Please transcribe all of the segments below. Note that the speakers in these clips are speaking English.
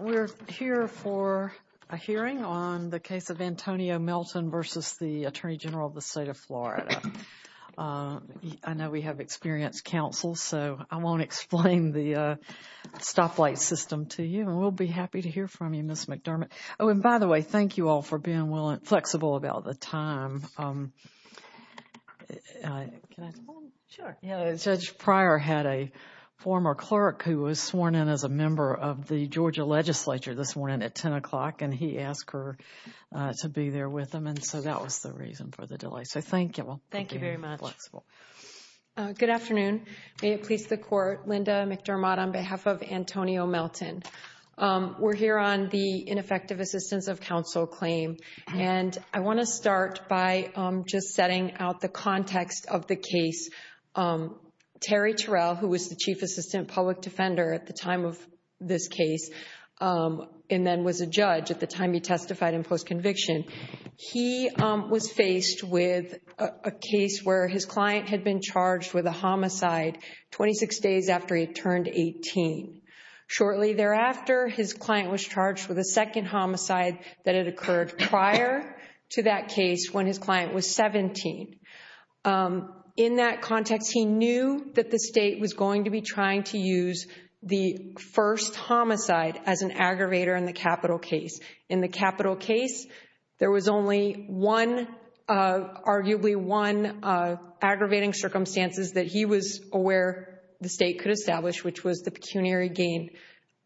We're here for a hearing on the case of Antonio Melton v. the Attorney General of the State of Florida. I know we have experienced counsel, so I won't explain the stoplight system to you, and we'll be happy to hear from you, Ms. McDermott. Oh, and by the way, thank you very much. We had a former clerk who was sworn in as a member of the Georgia Legislature this morning at 10 o'clock, and he asked her to be there with him, and so that was the reason for the delay. So thank you. Thank you very much. Good afternoon. May it please the Court, Linda McDermott on behalf of Antonio Melton. We're here on the ineffective assistance of counsel claim, and I want to start by just setting out the context of the case. Terry Terrell, who was the Chief Assistant Public Defender at the time of this case, and then was a judge at the time he testified in post-conviction, he was faced with a case where his client had been charged with a homicide 26 days after he had turned 18. Shortly thereafter, his client was charged with a second homicide that had occurred prior to that case when his client was 17. In that context, he knew that the state was going to be trying to use the first homicide as an aggravator in the capital case. In the capital case, there was only one, arguably one, aggravating circumstances that he was aware the state could establish, which was the pecuniary gain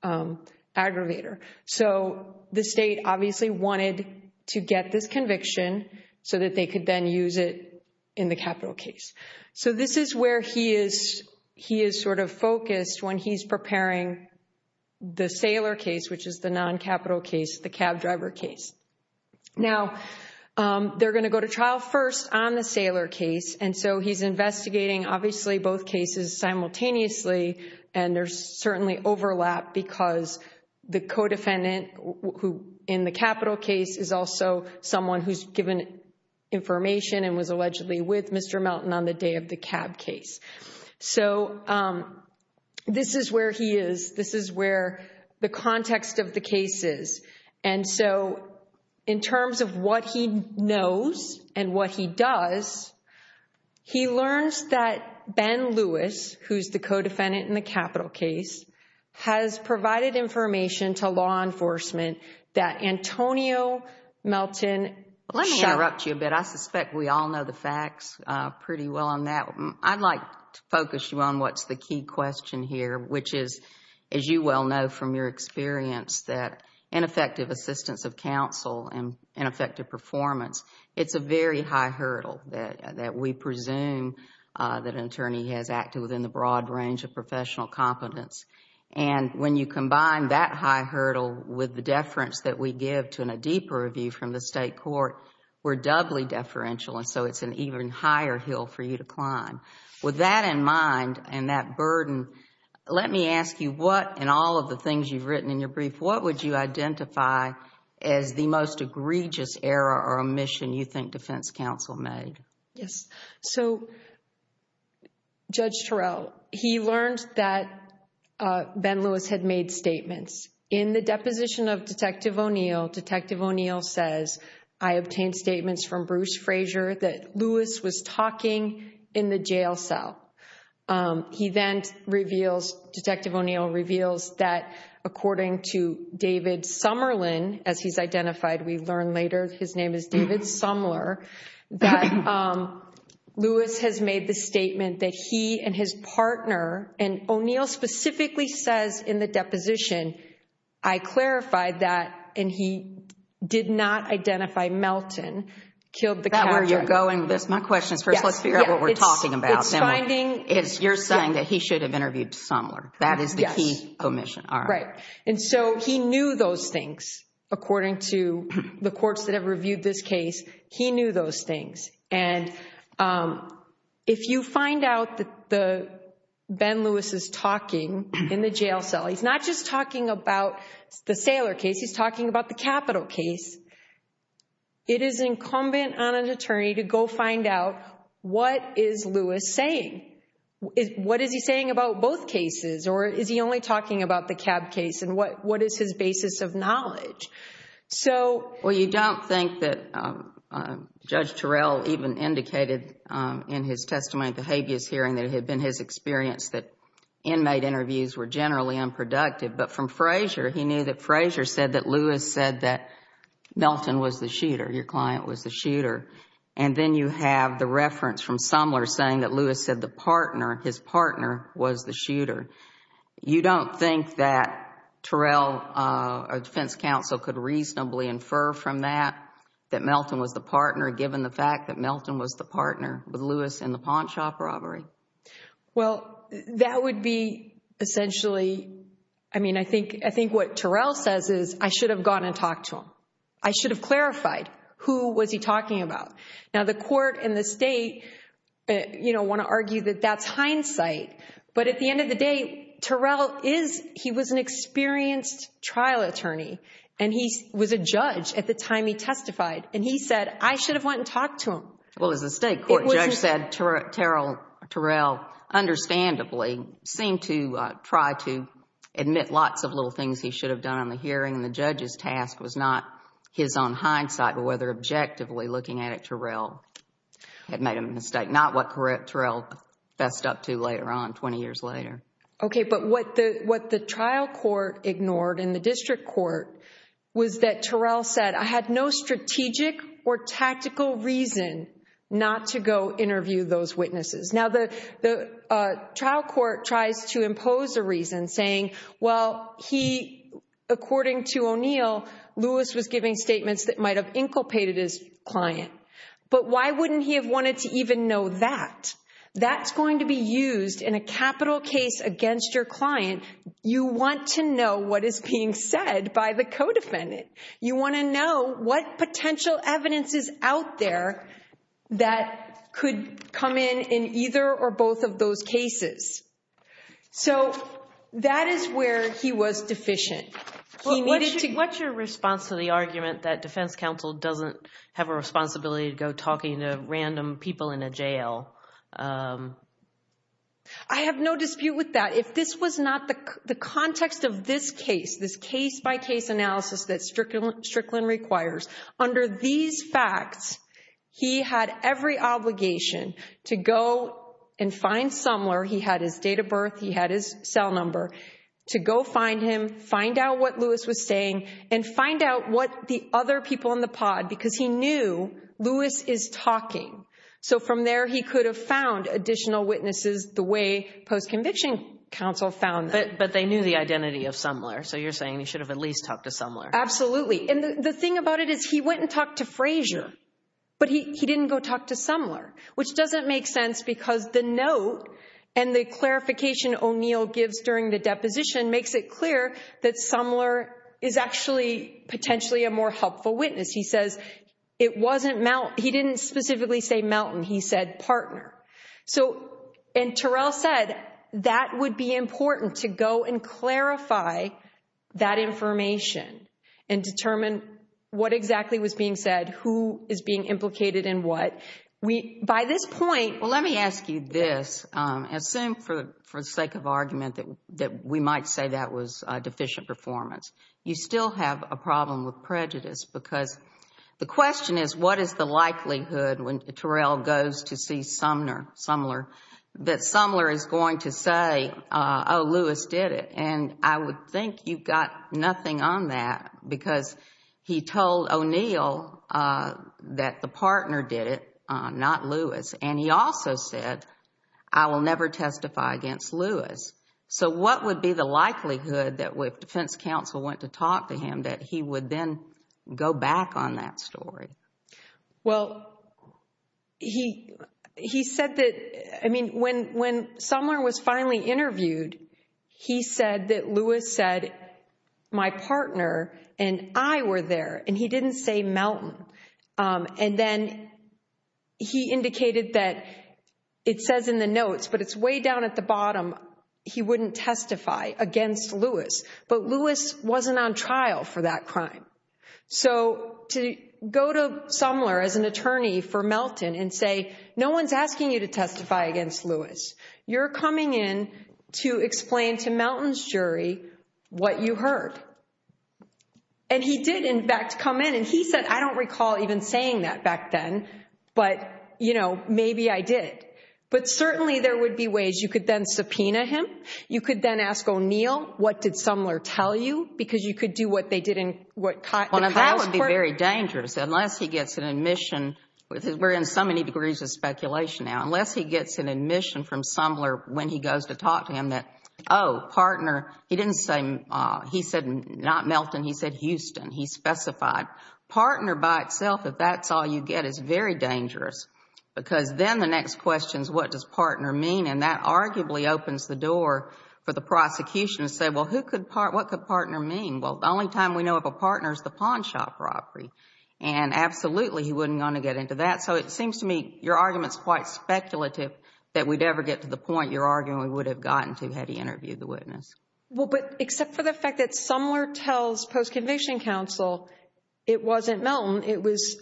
aggravator. So the state obviously wanted to get this conviction so that they could then use it in the capital case. So this is where he is sort of focused when he's preparing the Saylor case, which is the non-capital case, the cab driver case. Now, they're going to go to trial first on the Saylor case, and so he's investigating obviously both cases simultaneously, and there's certainly overlap because the co-defendant in the capital case is also someone who's given information and was allegedly with Mr. Melton on the day of the cab case. So this is where he is. This is where the context of the case is. And so in terms of what he knows and what he does, he learns that Ben Lewis, who's the co-defendant in the capital case, has provided information to law enforcement that Antonio Melton shot. Let me interrupt you a bit. I suspect we all know the facts pretty well on that. I'd like to focus you on what's the key question here, which is, as you well know from your experience, that ineffective assistance of counsel and ineffective performance, it's a very high hurdle of competence. And when you combine that high hurdle with the deference that we give to a deeper review from the state court, we're doubly deferential, and so it's an even higher hill for you to climb. With that in mind and that burden, let me ask you what in all of the things you've written in your brief, what would you identify as the most egregious error or omission you think defense counsel made? Yes. So Judge Turrell, he learned that Ben Lewis had made statements. In the deposition of Detective O'Neill, Detective O'Neill says, I obtained statements from Bruce Frazier that Lewis was talking in the jail cell. He then reveals, Detective O'Neill reveals that according to David Summerlin, as he's identified, we learn later his name is David Sumler, that Lewis has made the statement that he and his partner, and O'Neill specifically says in the deposition, I clarified that, and he did not identify Melton, killed the captain. Is that where you're going with this? My question is first, let's figure out what we're talking about. You're saying that he should have interviewed Sumler. That is the key omission. Right. And so he knew those things. According to the courts that have reviewed this case, he knew those things. And if you find out that Ben Lewis is talking in the jail cell, he's not just talking about the Saylor case, he's talking about the Capitol case. It is incumbent on an attorney to go find out what is Lewis saying? What is he saying about both cases? Or is he only talking about the Cab case? And what is his basis of knowledge? Well, you don't think that Judge Terrell even indicated in his testimony at the habeas hearing that it had been his experience that inmate interviews were generally unproductive. But from Frazier, he knew that Frazier said that Lewis said that Melton was the shooter, your client was the shooter. And then you have the reference from Sumler saying that Lewis said the partner, his partner, was the shooter. You don't think that Terrell or defense counsel could reasonably infer from that that Melton was the partner given the fact that Melton was the partner with Lewis in the pawnshop robbery? Well, that would be essentially, I mean, I think what Terrell says is I should have gone and talked to him. I should have clarified who was he talking about. Now, the court and the state, you know, want to argue that that's hindsight. But at the end of the day, Terrell is, he was an experienced trial attorney. And he was a judge at the time he testified. And he said, I should have went and talked to him. Well, as the state court judge said, Terrell, understandably, seemed to try to admit lots of little things he should have done in the hearing. And the judge's task was not his own hindsight, but whether objectively looking at it, Terrell had made a mistake. Not what Terrell fessed up to later on, 20 years later. Okay. But what the trial court ignored in the district court was that Terrell said, I had no strategic or tactical reason not to go interview those witnesses. Now, the trial court tries to impose a reason saying, well, he, according to O'Neill, Lewis was giving statements that might have inculpated his client. But why wouldn't he have wanted to even know that? That's going to be used in a capital case against your client. You want to know what is being said by the co-defendant. You want to know what potential evidence is out there that could come in in either or both of those cases. So that is where he was deficient. What's your response to the argument that defense counsel doesn't have a responsibility to go talking to random people in a jail? I have no dispute with that. If this was not the context of this case, this case-by-case analysis that Strickland requires, under these facts, he had every obligation to go and find out what Lewis was saying and find out what the other people in the pod, because he knew Lewis is talking. So from there, he could have found additional witnesses the way post-conviction counsel found them. But they knew the identity of Sumler. So you're saying he should have at least talked to Sumler. Absolutely. And the thing about it is he went and talked to Frazier, but he didn't go talk to Sumler, which doesn't make sense because the note and the clarification O'Neill gives during the deposition makes it clear that Sumler is actually potentially a more helpful witness. He says, he didn't specifically say Melton, he said partner. And Terrell said that would be important to go and clarify that information and determine what exactly was being said, who is being implicated and what. By this point, well, let me ask you this. Assume for the sake of argument that we might say that was deficient performance. You still have a problem with prejudice because the question is what is the likelihood when Terrell goes to see Sumler that Sumler is going to say, oh, Lewis did it. And I would think you've got nothing on that because he told O'Neill that the partner did it, not Lewis. And he also said, I will never testify against Lewis. So what would be the likelihood that if defense counsel went to talk to him that he would then go back on that story? Well, he said that, I mean, when Sumler was finally interviewed, he said that Lewis said, my partner and I were there and he didn't say Melton. And then he indicated that it says in the notes, but it's way down at the bottom, he wouldn't testify against Lewis, but Lewis wasn't on trial for that crime. So to go to Sumler as an attorney for Melton and say, no one's asking you to testify against Lewis. You're coming in to explain to Melton's you heard. And he did, in fact, come in and he said, I don't recall even saying that back then, but, you know, maybe I did. But certainly there would be ways you could then subpoena him. You could then ask O'Neill, what did Sumler tell you? Because you could do what they did. That would be very dangerous unless he gets an admission. We're in so many degrees of speculation now. Unless he gets an admission from Sumler when he goes to talk to him that, oh, partner, he didn't say, he said not Melton, he said Houston, he specified. Partner by itself, if that's all you get, is very dangerous. Because then the next question is what does partner mean? And that arguably opens the door for the prosecution to say, well, what could partner mean? Well, the only time we know of a partner is the pawn shop property. And absolutely he wouldn't want to get into that. So it seems to me your argument is quite Well, but except for the fact that Sumler tells post-conviction counsel it wasn't Melton, it was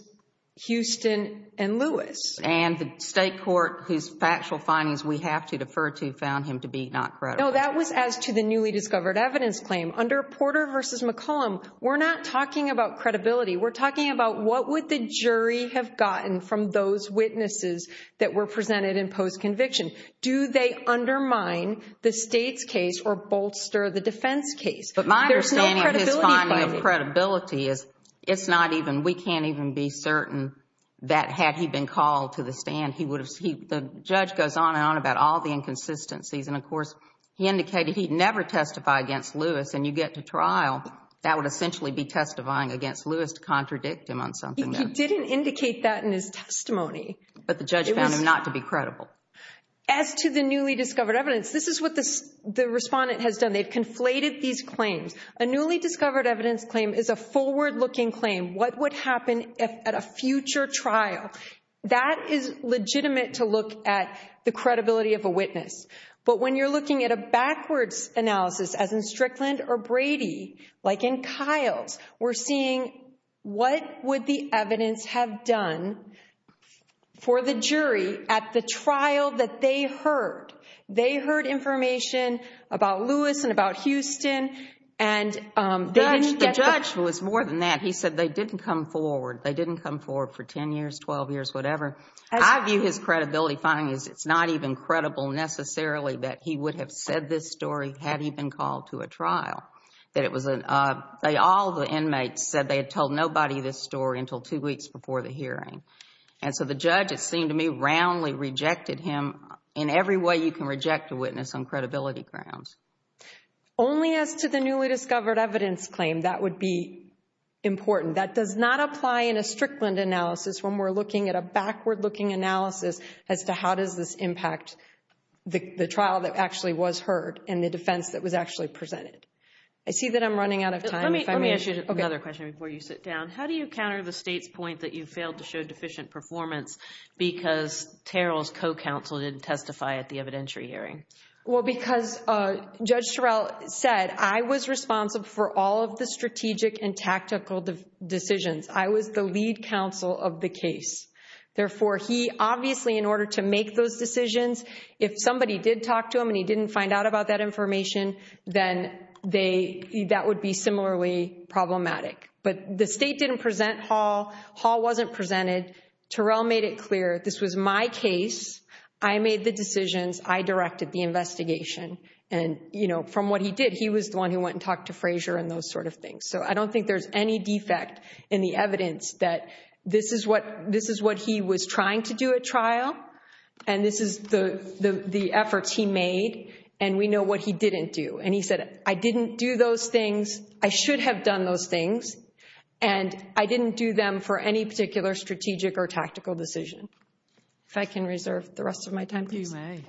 Houston and Lewis. And the state court whose factual findings we have to defer to found him to be not credible. No, that was as to the newly discovered evidence claim. Under Porter v. McCollum, we're not talking about credibility. We're talking about what would the jury have gotten from those case or bolster the defense case. But my understanding of his finding of credibility is it's not even, we can't even be certain that had he been called to the stand, he would have, the judge goes on and on about all the inconsistencies. And of course, he indicated he'd never testify against Lewis. And you get to trial, that would essentially be testifying against Lewis to contradict him on something. He didn't indicate that in his testimony. But the judge found him not to be credible. As to the newly discovered evidence, this is what the respondent has done. They've conflated these claims. A newly discovered evidence claim is a forward-looking claim. What would happen at a future trial? That is legitimate to look at the credibility of a witness. But when you're looking at a backwards analysis, as in Strickland or Brady, like in Kyle's, we're seeing what would the evidence have done for the jury at the trial that they heard. They heard information about Lewis and about Houston. And the judge was more than that. He said they didn't come forward. They didn't come forward for 10 years, 12 years, whatever. I view his credibility finding is it's not even credible necessarily that he would have said this story had he been called to a trial. All the inmates said they had told nobody this story until two weeks before the hearing. And so the judge, it seemed to me, roundly rejected him in every way you can reject a witness on credibility grounds. Only as to the newly discovered evidence claim, that would be important. That does not apply in a Strickland analysis when we're looking at a backward-looking analysis as to how does this impact the trial that actually was heard and the defense that was actually presented. I see that I'm running out of time. Let me ask you another question before you sit down. How do you counter the state's point that you failed to show deficient performance because Terrell's co-counsel didn't testify at the evidentiary hearing? Well, because Judge Terrell said I was responsible for all of the strategic and tactical decisions. I was the lead counsel of the case. Therefore, he obviously, in order to make those decisions, if somebody did talk to him and he didn't find out about that information, then that would be similarly problematic. But the state didn't present Hall. Hall wasn't presented. Terrell made it clear this was my case. I made the decisions. I directed the investigation. And from what he did, he was the one who went and talked to Frazier and those sort of things. So I don't think there's any defect in the evidence that this is what he was trying to do at trial and this is the efforts he made. And we know what he didn't do. And he said, I didn't do those things. I should have done those things. And I didn't do them for any particular strategic or tactical decision. If I can reserve the rest of my time, please. Thank you, Ms.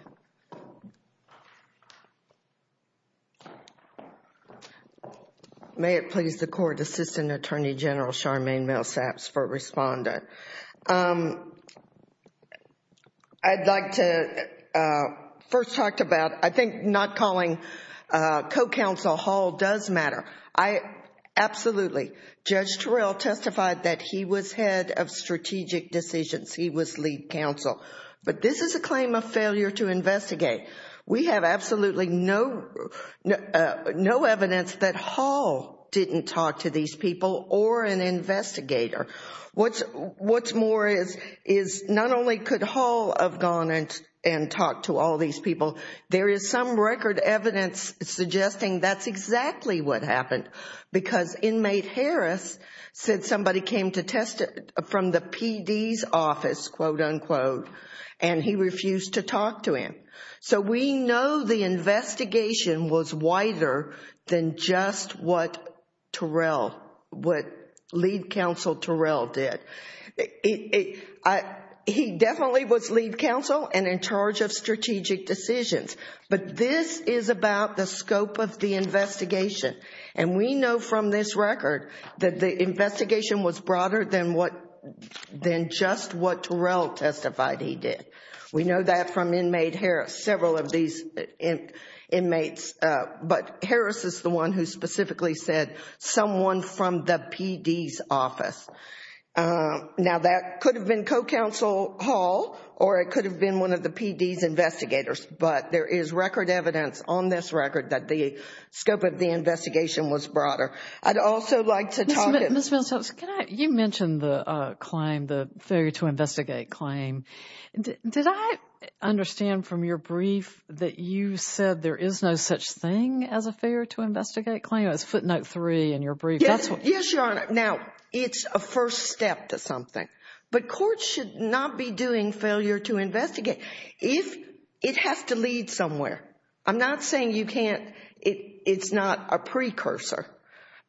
May. May it please the Court, Assistant Attorney General Charmaine Millsaps for respondent. I'd like to first talk about, I think not calling co-counsel Hall does matter. Absolutely. Judge Terrell testified that he was head of strategic decisions. He was lead counsel. But this is a claim of failure to investigate. We have absolutely no evidence that Hall didn't talk to these people or an investigator. What's more is not only could Hall have gone and talked to all these people, there is some record evidence suggesting that's exactly what happened. Because inmate Harris said somebody came to test it from the PD's office, quote unquote, and he refused to talk to him. So we know the investigation was wider than just what Terrell, what lead counsel Terrell did. He definitely was lead counsel and in And we know from this record that the investigation was broader than just what Terrell testified he did. We know that from inmate Harris, several of these inmates. But Harris is the one who specifically said someone from the PD's office. Now that could have been co-counsel Hall or it could have been one of the PD's investigators. But there is record evidence on this record that the scope of the investigation was broader. I'd also like to talk to Ms. Millicent. You mentioned the claim, the failure to investigate claim. Did I understand from your brief that you said there is no such thing as a failure to investigate claim? It's footnote three in your brief. Yes, Your Honor. Now, it's a first step to something. But courts should not be doing failure to investigate. It has to lead somewhere. I'm not saying you can't, it's not a precursor.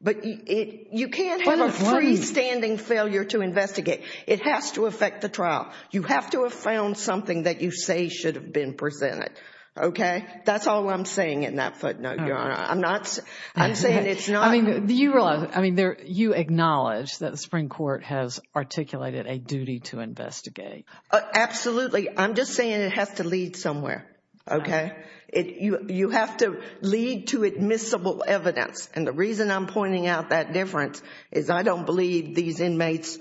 But you can't have a freestanding failure to investigate. It has to affect the trial. You have to have found something that you say should have been presented. Okay? That's all I'm saying in that footnote, Your Honor. I'm not, I'm saying it's not. I mean, do you realize, I mean, you acknowledge that the Supreme Court has articulated a duty to investigate. Absolutely. I'm just saying it has to lead somewhere. Okay? You have to lead to admissible evidence. And the reason I'm pointing out that difference is I don't believe these inmates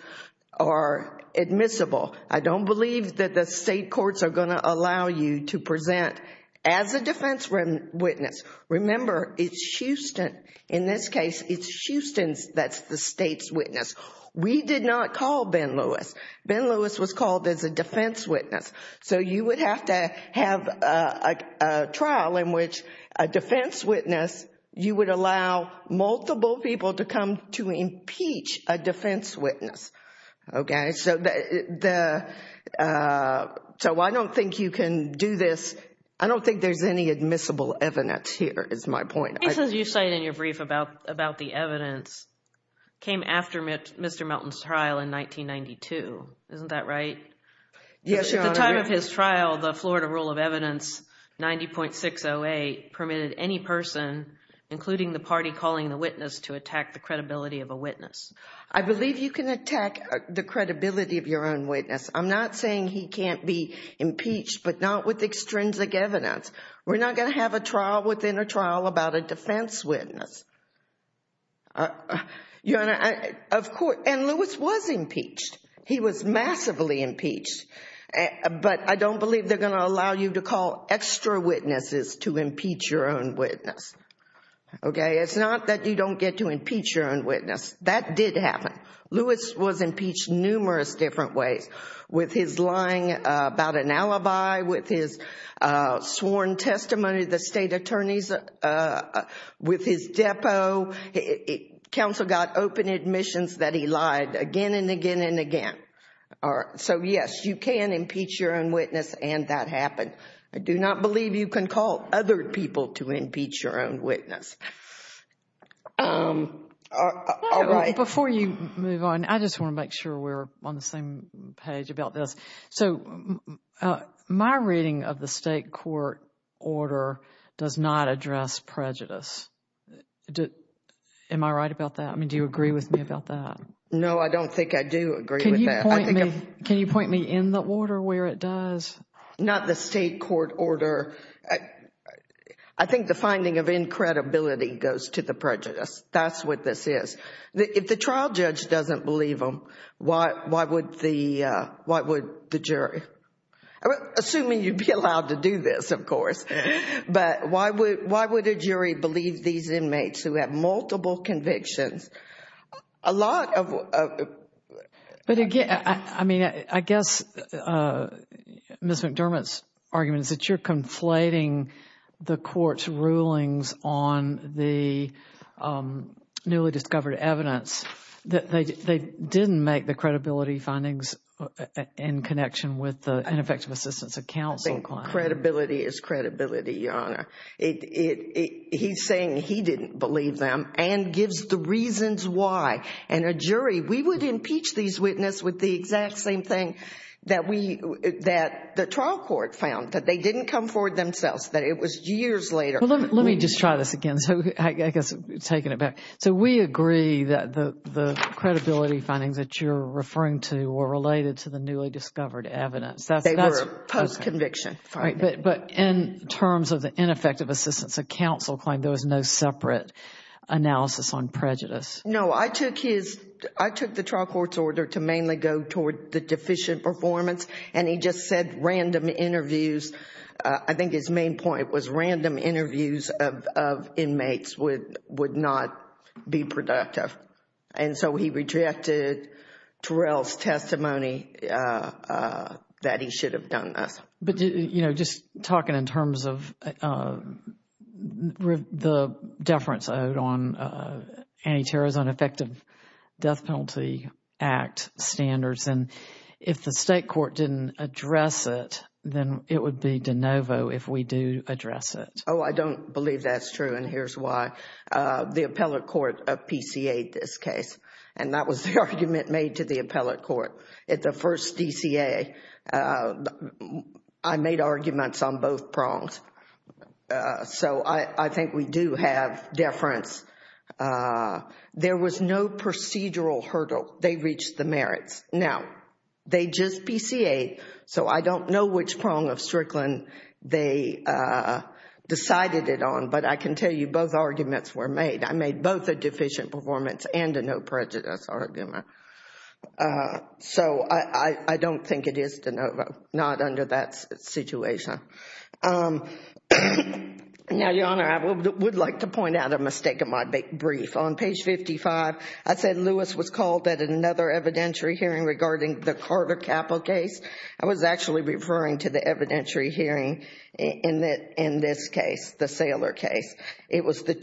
are admissible. I don't believe that the state courts are going to allow you to present as a defense witness. Remember, it's Houston, in this case, it's Houston that's the state's Ben Lewis. Ben Lewis was called as a defense witness. So you would have to have a trial in which a defense witness, you would allow multiple people to come to impeach a defense witness. Okay? So the, so I don't think you can do this. I don't think there's any admissible evidence here, is my point. The case that you cited in your brief about the evidence came after Mr. Melton's trial in 1992. Isn't that right? Yes, Your Honor. At the time of his trial, the Florida rule of evidence 90.608 permitted any person, including the party calling the witness, to attack the credibility of a witness. I believe you can attack the credibility of your own witness. I'm not saying he can't be impeached, but not with extrinsic evidence. We're not going to have a trial within a trial about a defense witness. Your Honor, and Lewis was impeached. He was massively impeached. But I don't believe they're going to allow you to call extra witnesses to impeach your own witness. Okay? It's not that you don't get to impeach your own witness. That did happen. Lewis was impeached numerous different ways, with his lying about an alibi, with his sworn testimony to the state attorneys, with his depo. Counsel got open admissions that he lied again and again and again. So, yes, you can impeach your own witness, and that happened. I do not believe you can call other people to impeach your own witness. All right. Before you move on, I just want to make sure we're on the same page about this. So my reading of the state court order does not address prejudice. Am I right about that? Do you agree with me about that? No, I don't think I do agree with that. Can you point me in the order where it does? Not the state court order. I think the finding of incredibility goes to the prejudice. That's what this is. If the trial judge doesn't believe him, why would the jury? Assuming you'd be allowed to do this, of course. But why would a jury believe these inmates who have multiple convictions? I guess Ms. McDermott's argument is that you're conflating the court's rulings on the newly discovered evidence. They didn't make the credibility findings in connection with the ineffective assistance of counsel. Credibility is credibility, Your Honor. He's saying he didn't believe them and gives the reasons why. And a jury, we would impeach these witnesses with the exact same thing that the trial court found, that they didn't come forward themselves, that it was years later. Let me just try this again. So we agree that the credibility findings that you're referring to were related to the newly discovered evidence. They were post-conviction findings. But in terms of the ineffective assistance of counsel claim, there was no separate analysis on prejudice. No. I took the trial court's order to mainly go toward the deficient performance and he just said random interviews. I think his main point was random interviews of inmates would not be productive. And so he rejected Terrell's testimony that he should have done this. But you know, just talking in terms of the deference owed on Anti-Terrorism Effective Death Penalty Act standards and if the state court didn't address it, then it would be de novo if we do address it. Oh, I don't believe that's true and here's why. The appellate court PCA'd this case. And that was the argument made to the appellate court. At the first DCA, I made arguments on both prongs. So I think we do have deference. There was no procedural hurdle. They reached the merits. Now, they just PCA'd, so I don't know which prong of Strickland they decided it on, but I can tell you both arguments were made. I made both a deficient performance and a no prejudice argument. So I don't think it is de novo, not under that situation. Now, Your Honor, I would like to point out a mistake in my brief. On page 55, I said Lewis was called at another evidentiary hearing regarding the Carter Capple case. I was actually referring to the evidentiary hearing in this case, the Saylor case. It was in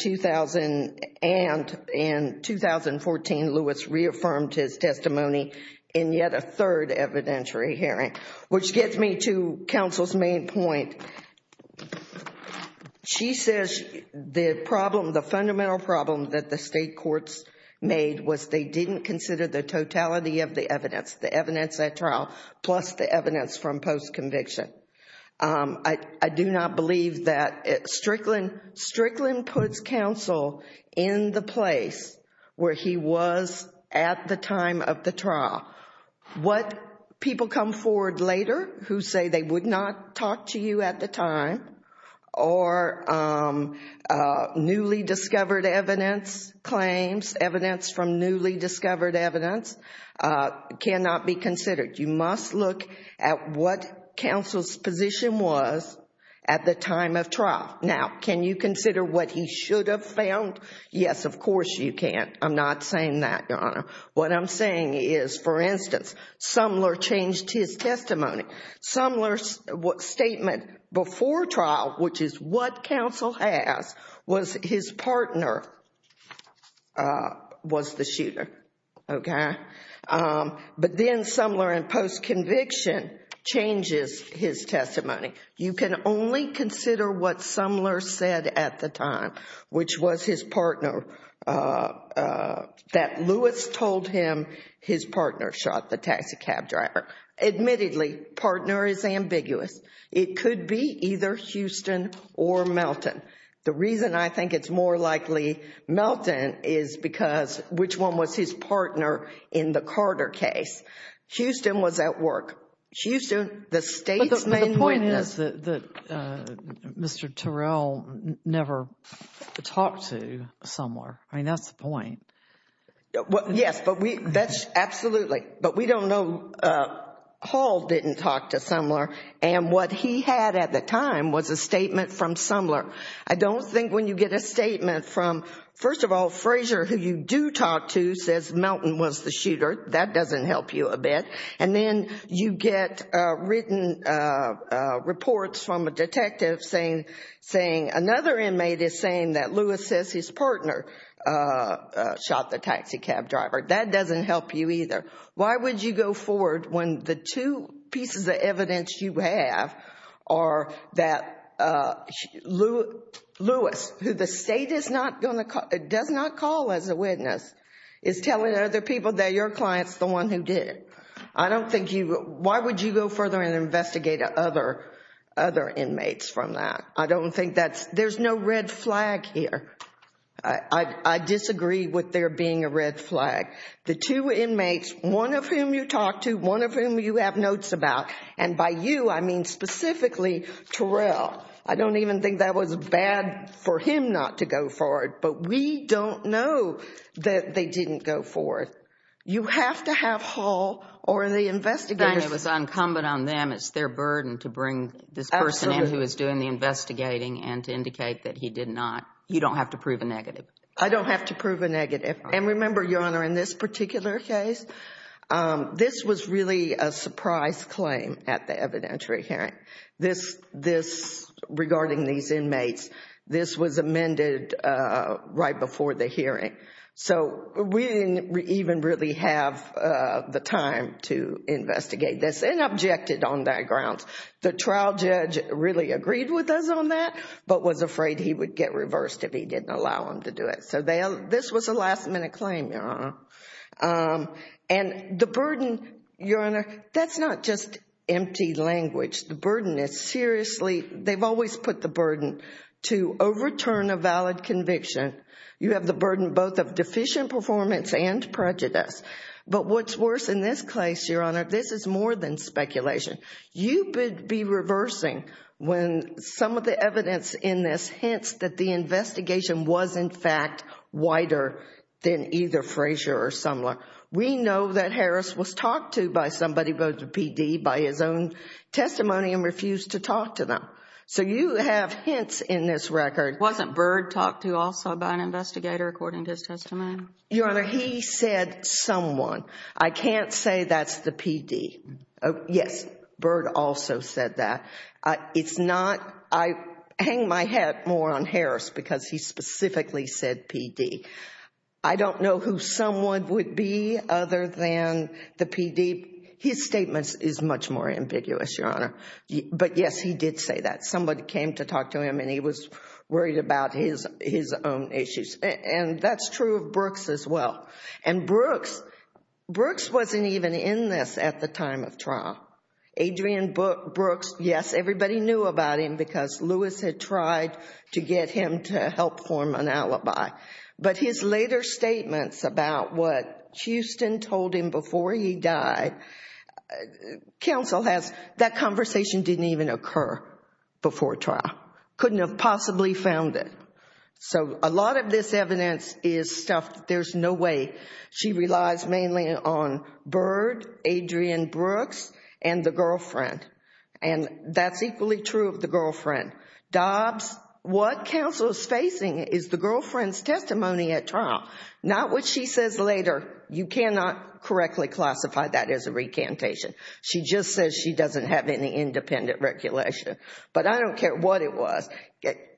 2014, Lewis reaffirmed his testimony in yet a third evidentiary hearing, which gets me to counsel's main point. She says the problem, the fundamental problem that the state courts made was they didn't consider the totality of the evidence, the evidence at trial, plus the evidence from post-conviction. I do not believe that Strickland puts counsel in the place where he was at the time of the trial. What people come forward later who say they would not talk to you at the time or newly discovered evidence claims, evidence from newly discovered evidence, cannot be considered. You must look at what counsel's position was at the time of trial. Now, can you consider what he should have found? Yes, of course you can. I'm not saying that, Your Honor. What I'm saying is, for instance, Sumler changed his testimony. Sumler's statement before trial, which is what counsel has, was his partner was the shooter, okay? But then Sumler in post-conviction changes his testimony. You can only consider what Lewis told him his partner shot the taxi cab driver. Admittedly, partner is ambiguous. It could be either Houston or Melton. The reason I think it's more likely Melton is because which one was his partner in the Carter case? Houston was at work. Houston, the state's main point is that Mr. Terrell never talked to Sumler. I mean, that's the point. Yes, absolutely. But we don't know. Hall didn't talk to Sumler. And what he had at the time was a statement from Sumler. I don't think when you get a statement from, first of all, Frazier, who you do talk to, says Melton was the shooter. That doesn't help you a bit. And then you get written reports from a detective saying another inmate is saying that Lewis says his partner shot the taxi cab driver. That doesn't help you either. Why would you go forward when the two pieces of evidence you have are that Lewis, who the state does not call as a witness, is telling other people that your client is the one who did it? Why would you go further and investigate other inmates from that? There's no red flag here. I disagree with there being a red flag. The two inmates, one of whom you talked to, one of whom you have notes about, and by you, I mean specifically Terrell. I don't even think that was bad for him not to go forward. But we don't know that they didn't go forward. You have to have Hall or the investigators. And it was incumbent on them. It's their burden to bring this person in who is doing the investigating and to indicate that he did not. You don't have to prove a negative. I don't have to prove a negative. And remember, Your Honor, in this particular case, this was really a surprise claim at the evidentiary hearing regarding these inmates. This was amended right before the hearing. So we didn't even really have the time to investigate this and objected on that grounds. The trial judge really agreed with us on that, but was afraid he would get reversed if he didn't allow them to do it. So this was a last minute claim. And the burden, Your Honor, that's not just empty language. The burden is seriously, they've always put the burden to overturn a valid conviction. You have the burden both of deficient performance and prejudice. But what's worse in this case, Your Honor, this is more than speculation. You would be reversing when some of the evidence in this hints that the investigation was in fact wider than either Frazier or Sumler. We know that Harris was talked to by somebody, by the PD, by his own testimony and refused to talk to them. So you have hints in this record. Wasn't Bird talked to also by an investigator according to his testimony? Your Honor, he said someone. I can't say that's the PD. Yes, Bird also said that. It's not, I hang my hat more on Harris because he specifically said PD. I don't know who someone would be other than the PD. His statement is much more ambiguous, Your Honor. But yes, he did say that. Somebody came to talk to him and he was worried about his own issues. And that's true of Brooks as well. And Brooks, Brooks wasn't even in this at the time of trial. Adrian Brooks, yes, everybody knew about him because Lewis had tried to get him to help form an alibi. But his later statements about what Houston told him before he died, counsel has, that conversation didn't even occur before trial. Couldn't have possibly found it. So a lot of this evidence is stuff that there's no way. She relies mainly on Bird, Adrian Brooks, and the girlfriend. And that's equally true of the girlfriend. Dobbs, what counsel is facing is the girlfriend's testimony at trial, not what she says later. You cannot correctly classify that as a recantation. She just says she doesn't have any independent regulation. But I don't care what it was.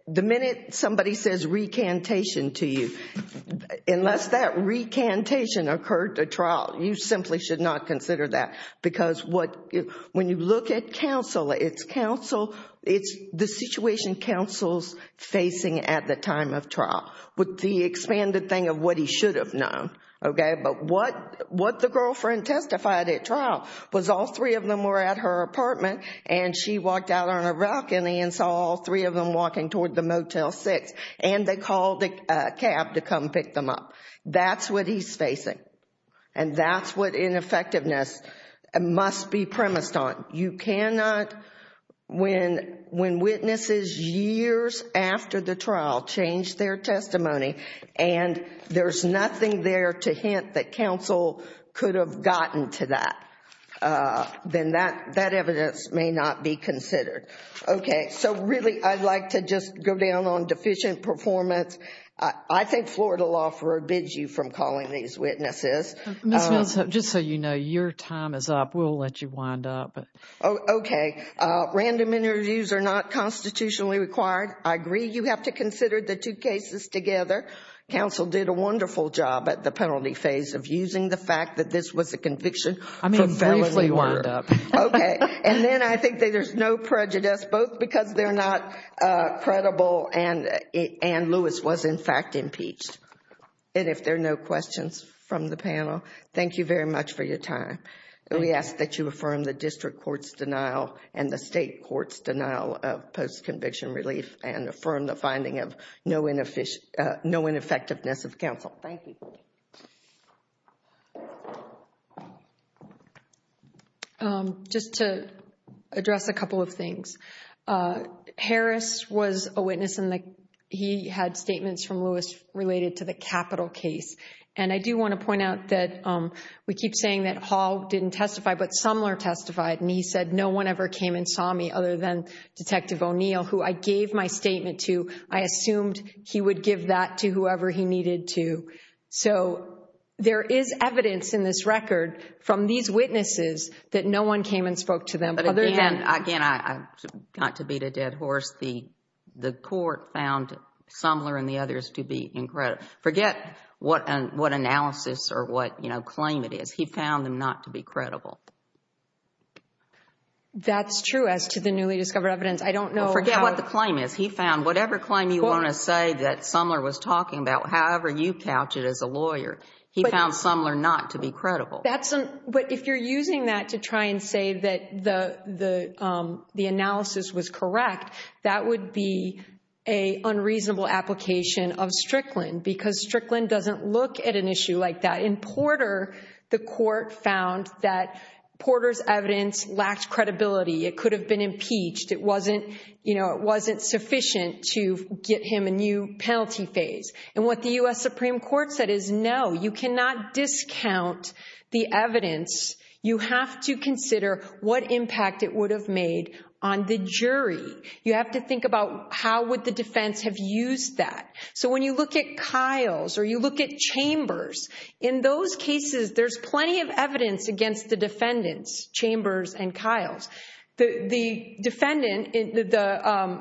The minute somebody says recantation to you, unless that recantation occurred at trial, you simply should not consider that. Because when you look at counsel, it's the situation counsel's facing at the time of trial, with the expanded thing of what he should have known. But what the girlfriend testified at trial was all three of them were at her apartment and she walked out on a balcony and saw all three of them walking toward the Motel 6 and they called a cab to come pick them up. That's what he's facing. And that's what ineffectiveness must be premised on. You cannot, when witnesses years after the trial change their testimony and there's nothing there to hint that counsel could have gotten to that, then that evidence may not be considered. Okay. So really, I'd like to just go down on deficient performance. I think Florida law forbids you from calling these witnesses. Ms. Mills, just so you know, your time is up. We'll let you wind up. Okay. Random interviews are not constitutionally required. I agree you have to consider the two cases together. Counsel did a wonderful job at the penalty phase of using the fact that this was a conviction. Okay. And then I think that there's no prejudice, both because they're not credible and Ann Lewis was in fact impeached. And if there are no questions from the panel, thank you very much for your time. We ask that you affirm the district court's denial and the state court's denial of post-conviction relief and affirm the finding of no ineffectiveness of counsel. Thank you. Just to address a couple of things. Harris was a witness and he had statements from Lewis related to the Capitol case. And I do want to point out that we keep saying that Hall didn't testify, but Sumler testified and he said, no one ever came and saw me other than Detective O'Neill, who I gave my statement to. I assumed he would give that to whoever he needed to. So there is evidence in this record from these witnesses that no one came and spoke to them. But again, I got to beat a dead horse. The court found Sumler and the others to be incredible. Forget what analysis or what claim it is. He found them not to be credible. That's true as to the newly discovered evidence. I don't know. Forget what the claim is. He found whatever claim you want to say that Sumler was talking about, however you couch it as a lawyer, he found Sumler not to be credible. But if you're using that to try and say that the analysis was correct, that would be a unreasonable application of Strickland because Strickland doesn't look at an issue like that. In Porter, the court found that Porter's evidence lacked credibility. It could have been impeached. It wasn't sufficient to get him a new penalty phase. And what the U.S. Supreme Court said is, no, you cannot discount the evidence. You have to consider what impact it would have made on the jury. You have to think about how would the defense have used that. So when you look at Kyle's or you look at Chambers, in those cases, there's plenty of the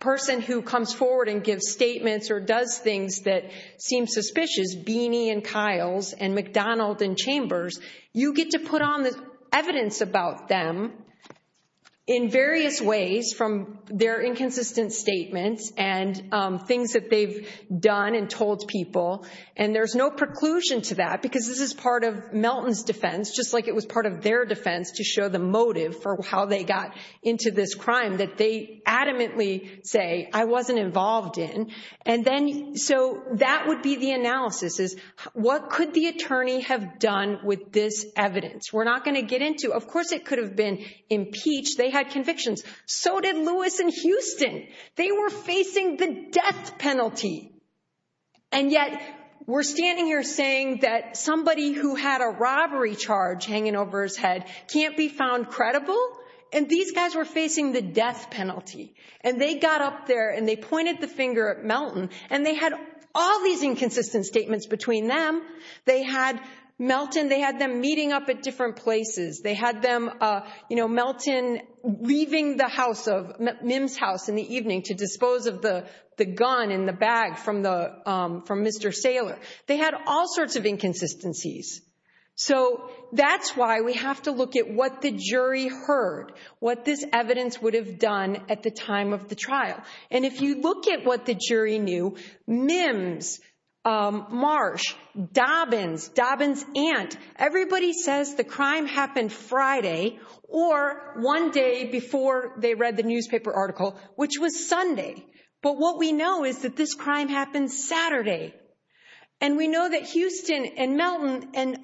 person who comes forward and gives statements or does things that seem suspicious, Beeney and Kyle's and McDonald and Chambers, you get to put on the evidence about them in various ways from their inconsistent statements and things that they've done and told people. And there's no preclusion to that because this is part of Melton's defense, just like it was part of their defense to show the motive for how they got into this crime that they adamantly say, I wasn't involved in. And then so that would be the analysis is what could the attorney have done with this evidence? We're not going to get into. Of course, it could have been impeached. They had convictions. So did Lewis and Houston. They were facing the death penalty. And yet we're standing here saying that somebody who had a robbery charge hanging over his head can't be found credible. And these guys were facing the death penalty. And they got up there and they pointed the finger at Melton and they had all these inconsistent statements between them. They had Melton, they had them meeting up at different places. They had them, you know, Melton leaving the house of Mims house in the evening to dispose of the gun in the bag from Mr. Saylor. They had all sorts of inconsistencies. So that's why we have to look at what the jury heard, what this evidence would have done at the time of the trial. And if you look at what the jury knew, Mims, Marsh, Dobbins, Dobbins aunt, everybody says the crime happened Friday or one day before they read the newspaper article, which was Sunday. But what we know is that this crime happened Saturday. And we know that Houston and Melton and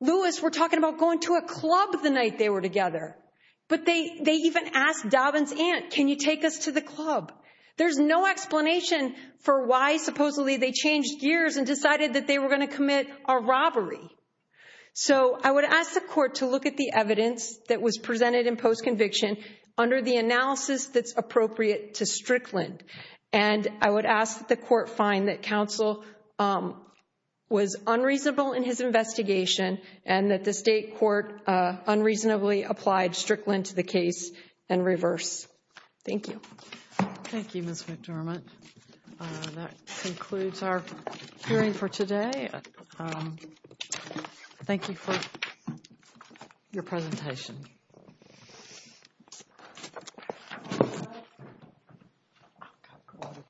Lewis were talking about going to a club the night they were together. But they even asked Dobbins aunt, can you take us to the club? There's no explanation for why supposedly they changed gears and decided that they were going to commit a robbery. So I would ask the court to look at the evidence that was presented in post-conviction under the analysis that's appropriate to Strickland. And I would ask the court find that counsel was unreasonable in his investigation and that the state court unreasonably applied Strickland to the case and reverse. Thank you. Thank you, Ms. McDermott. That concludes our hearing for today. Thank you for your presentation.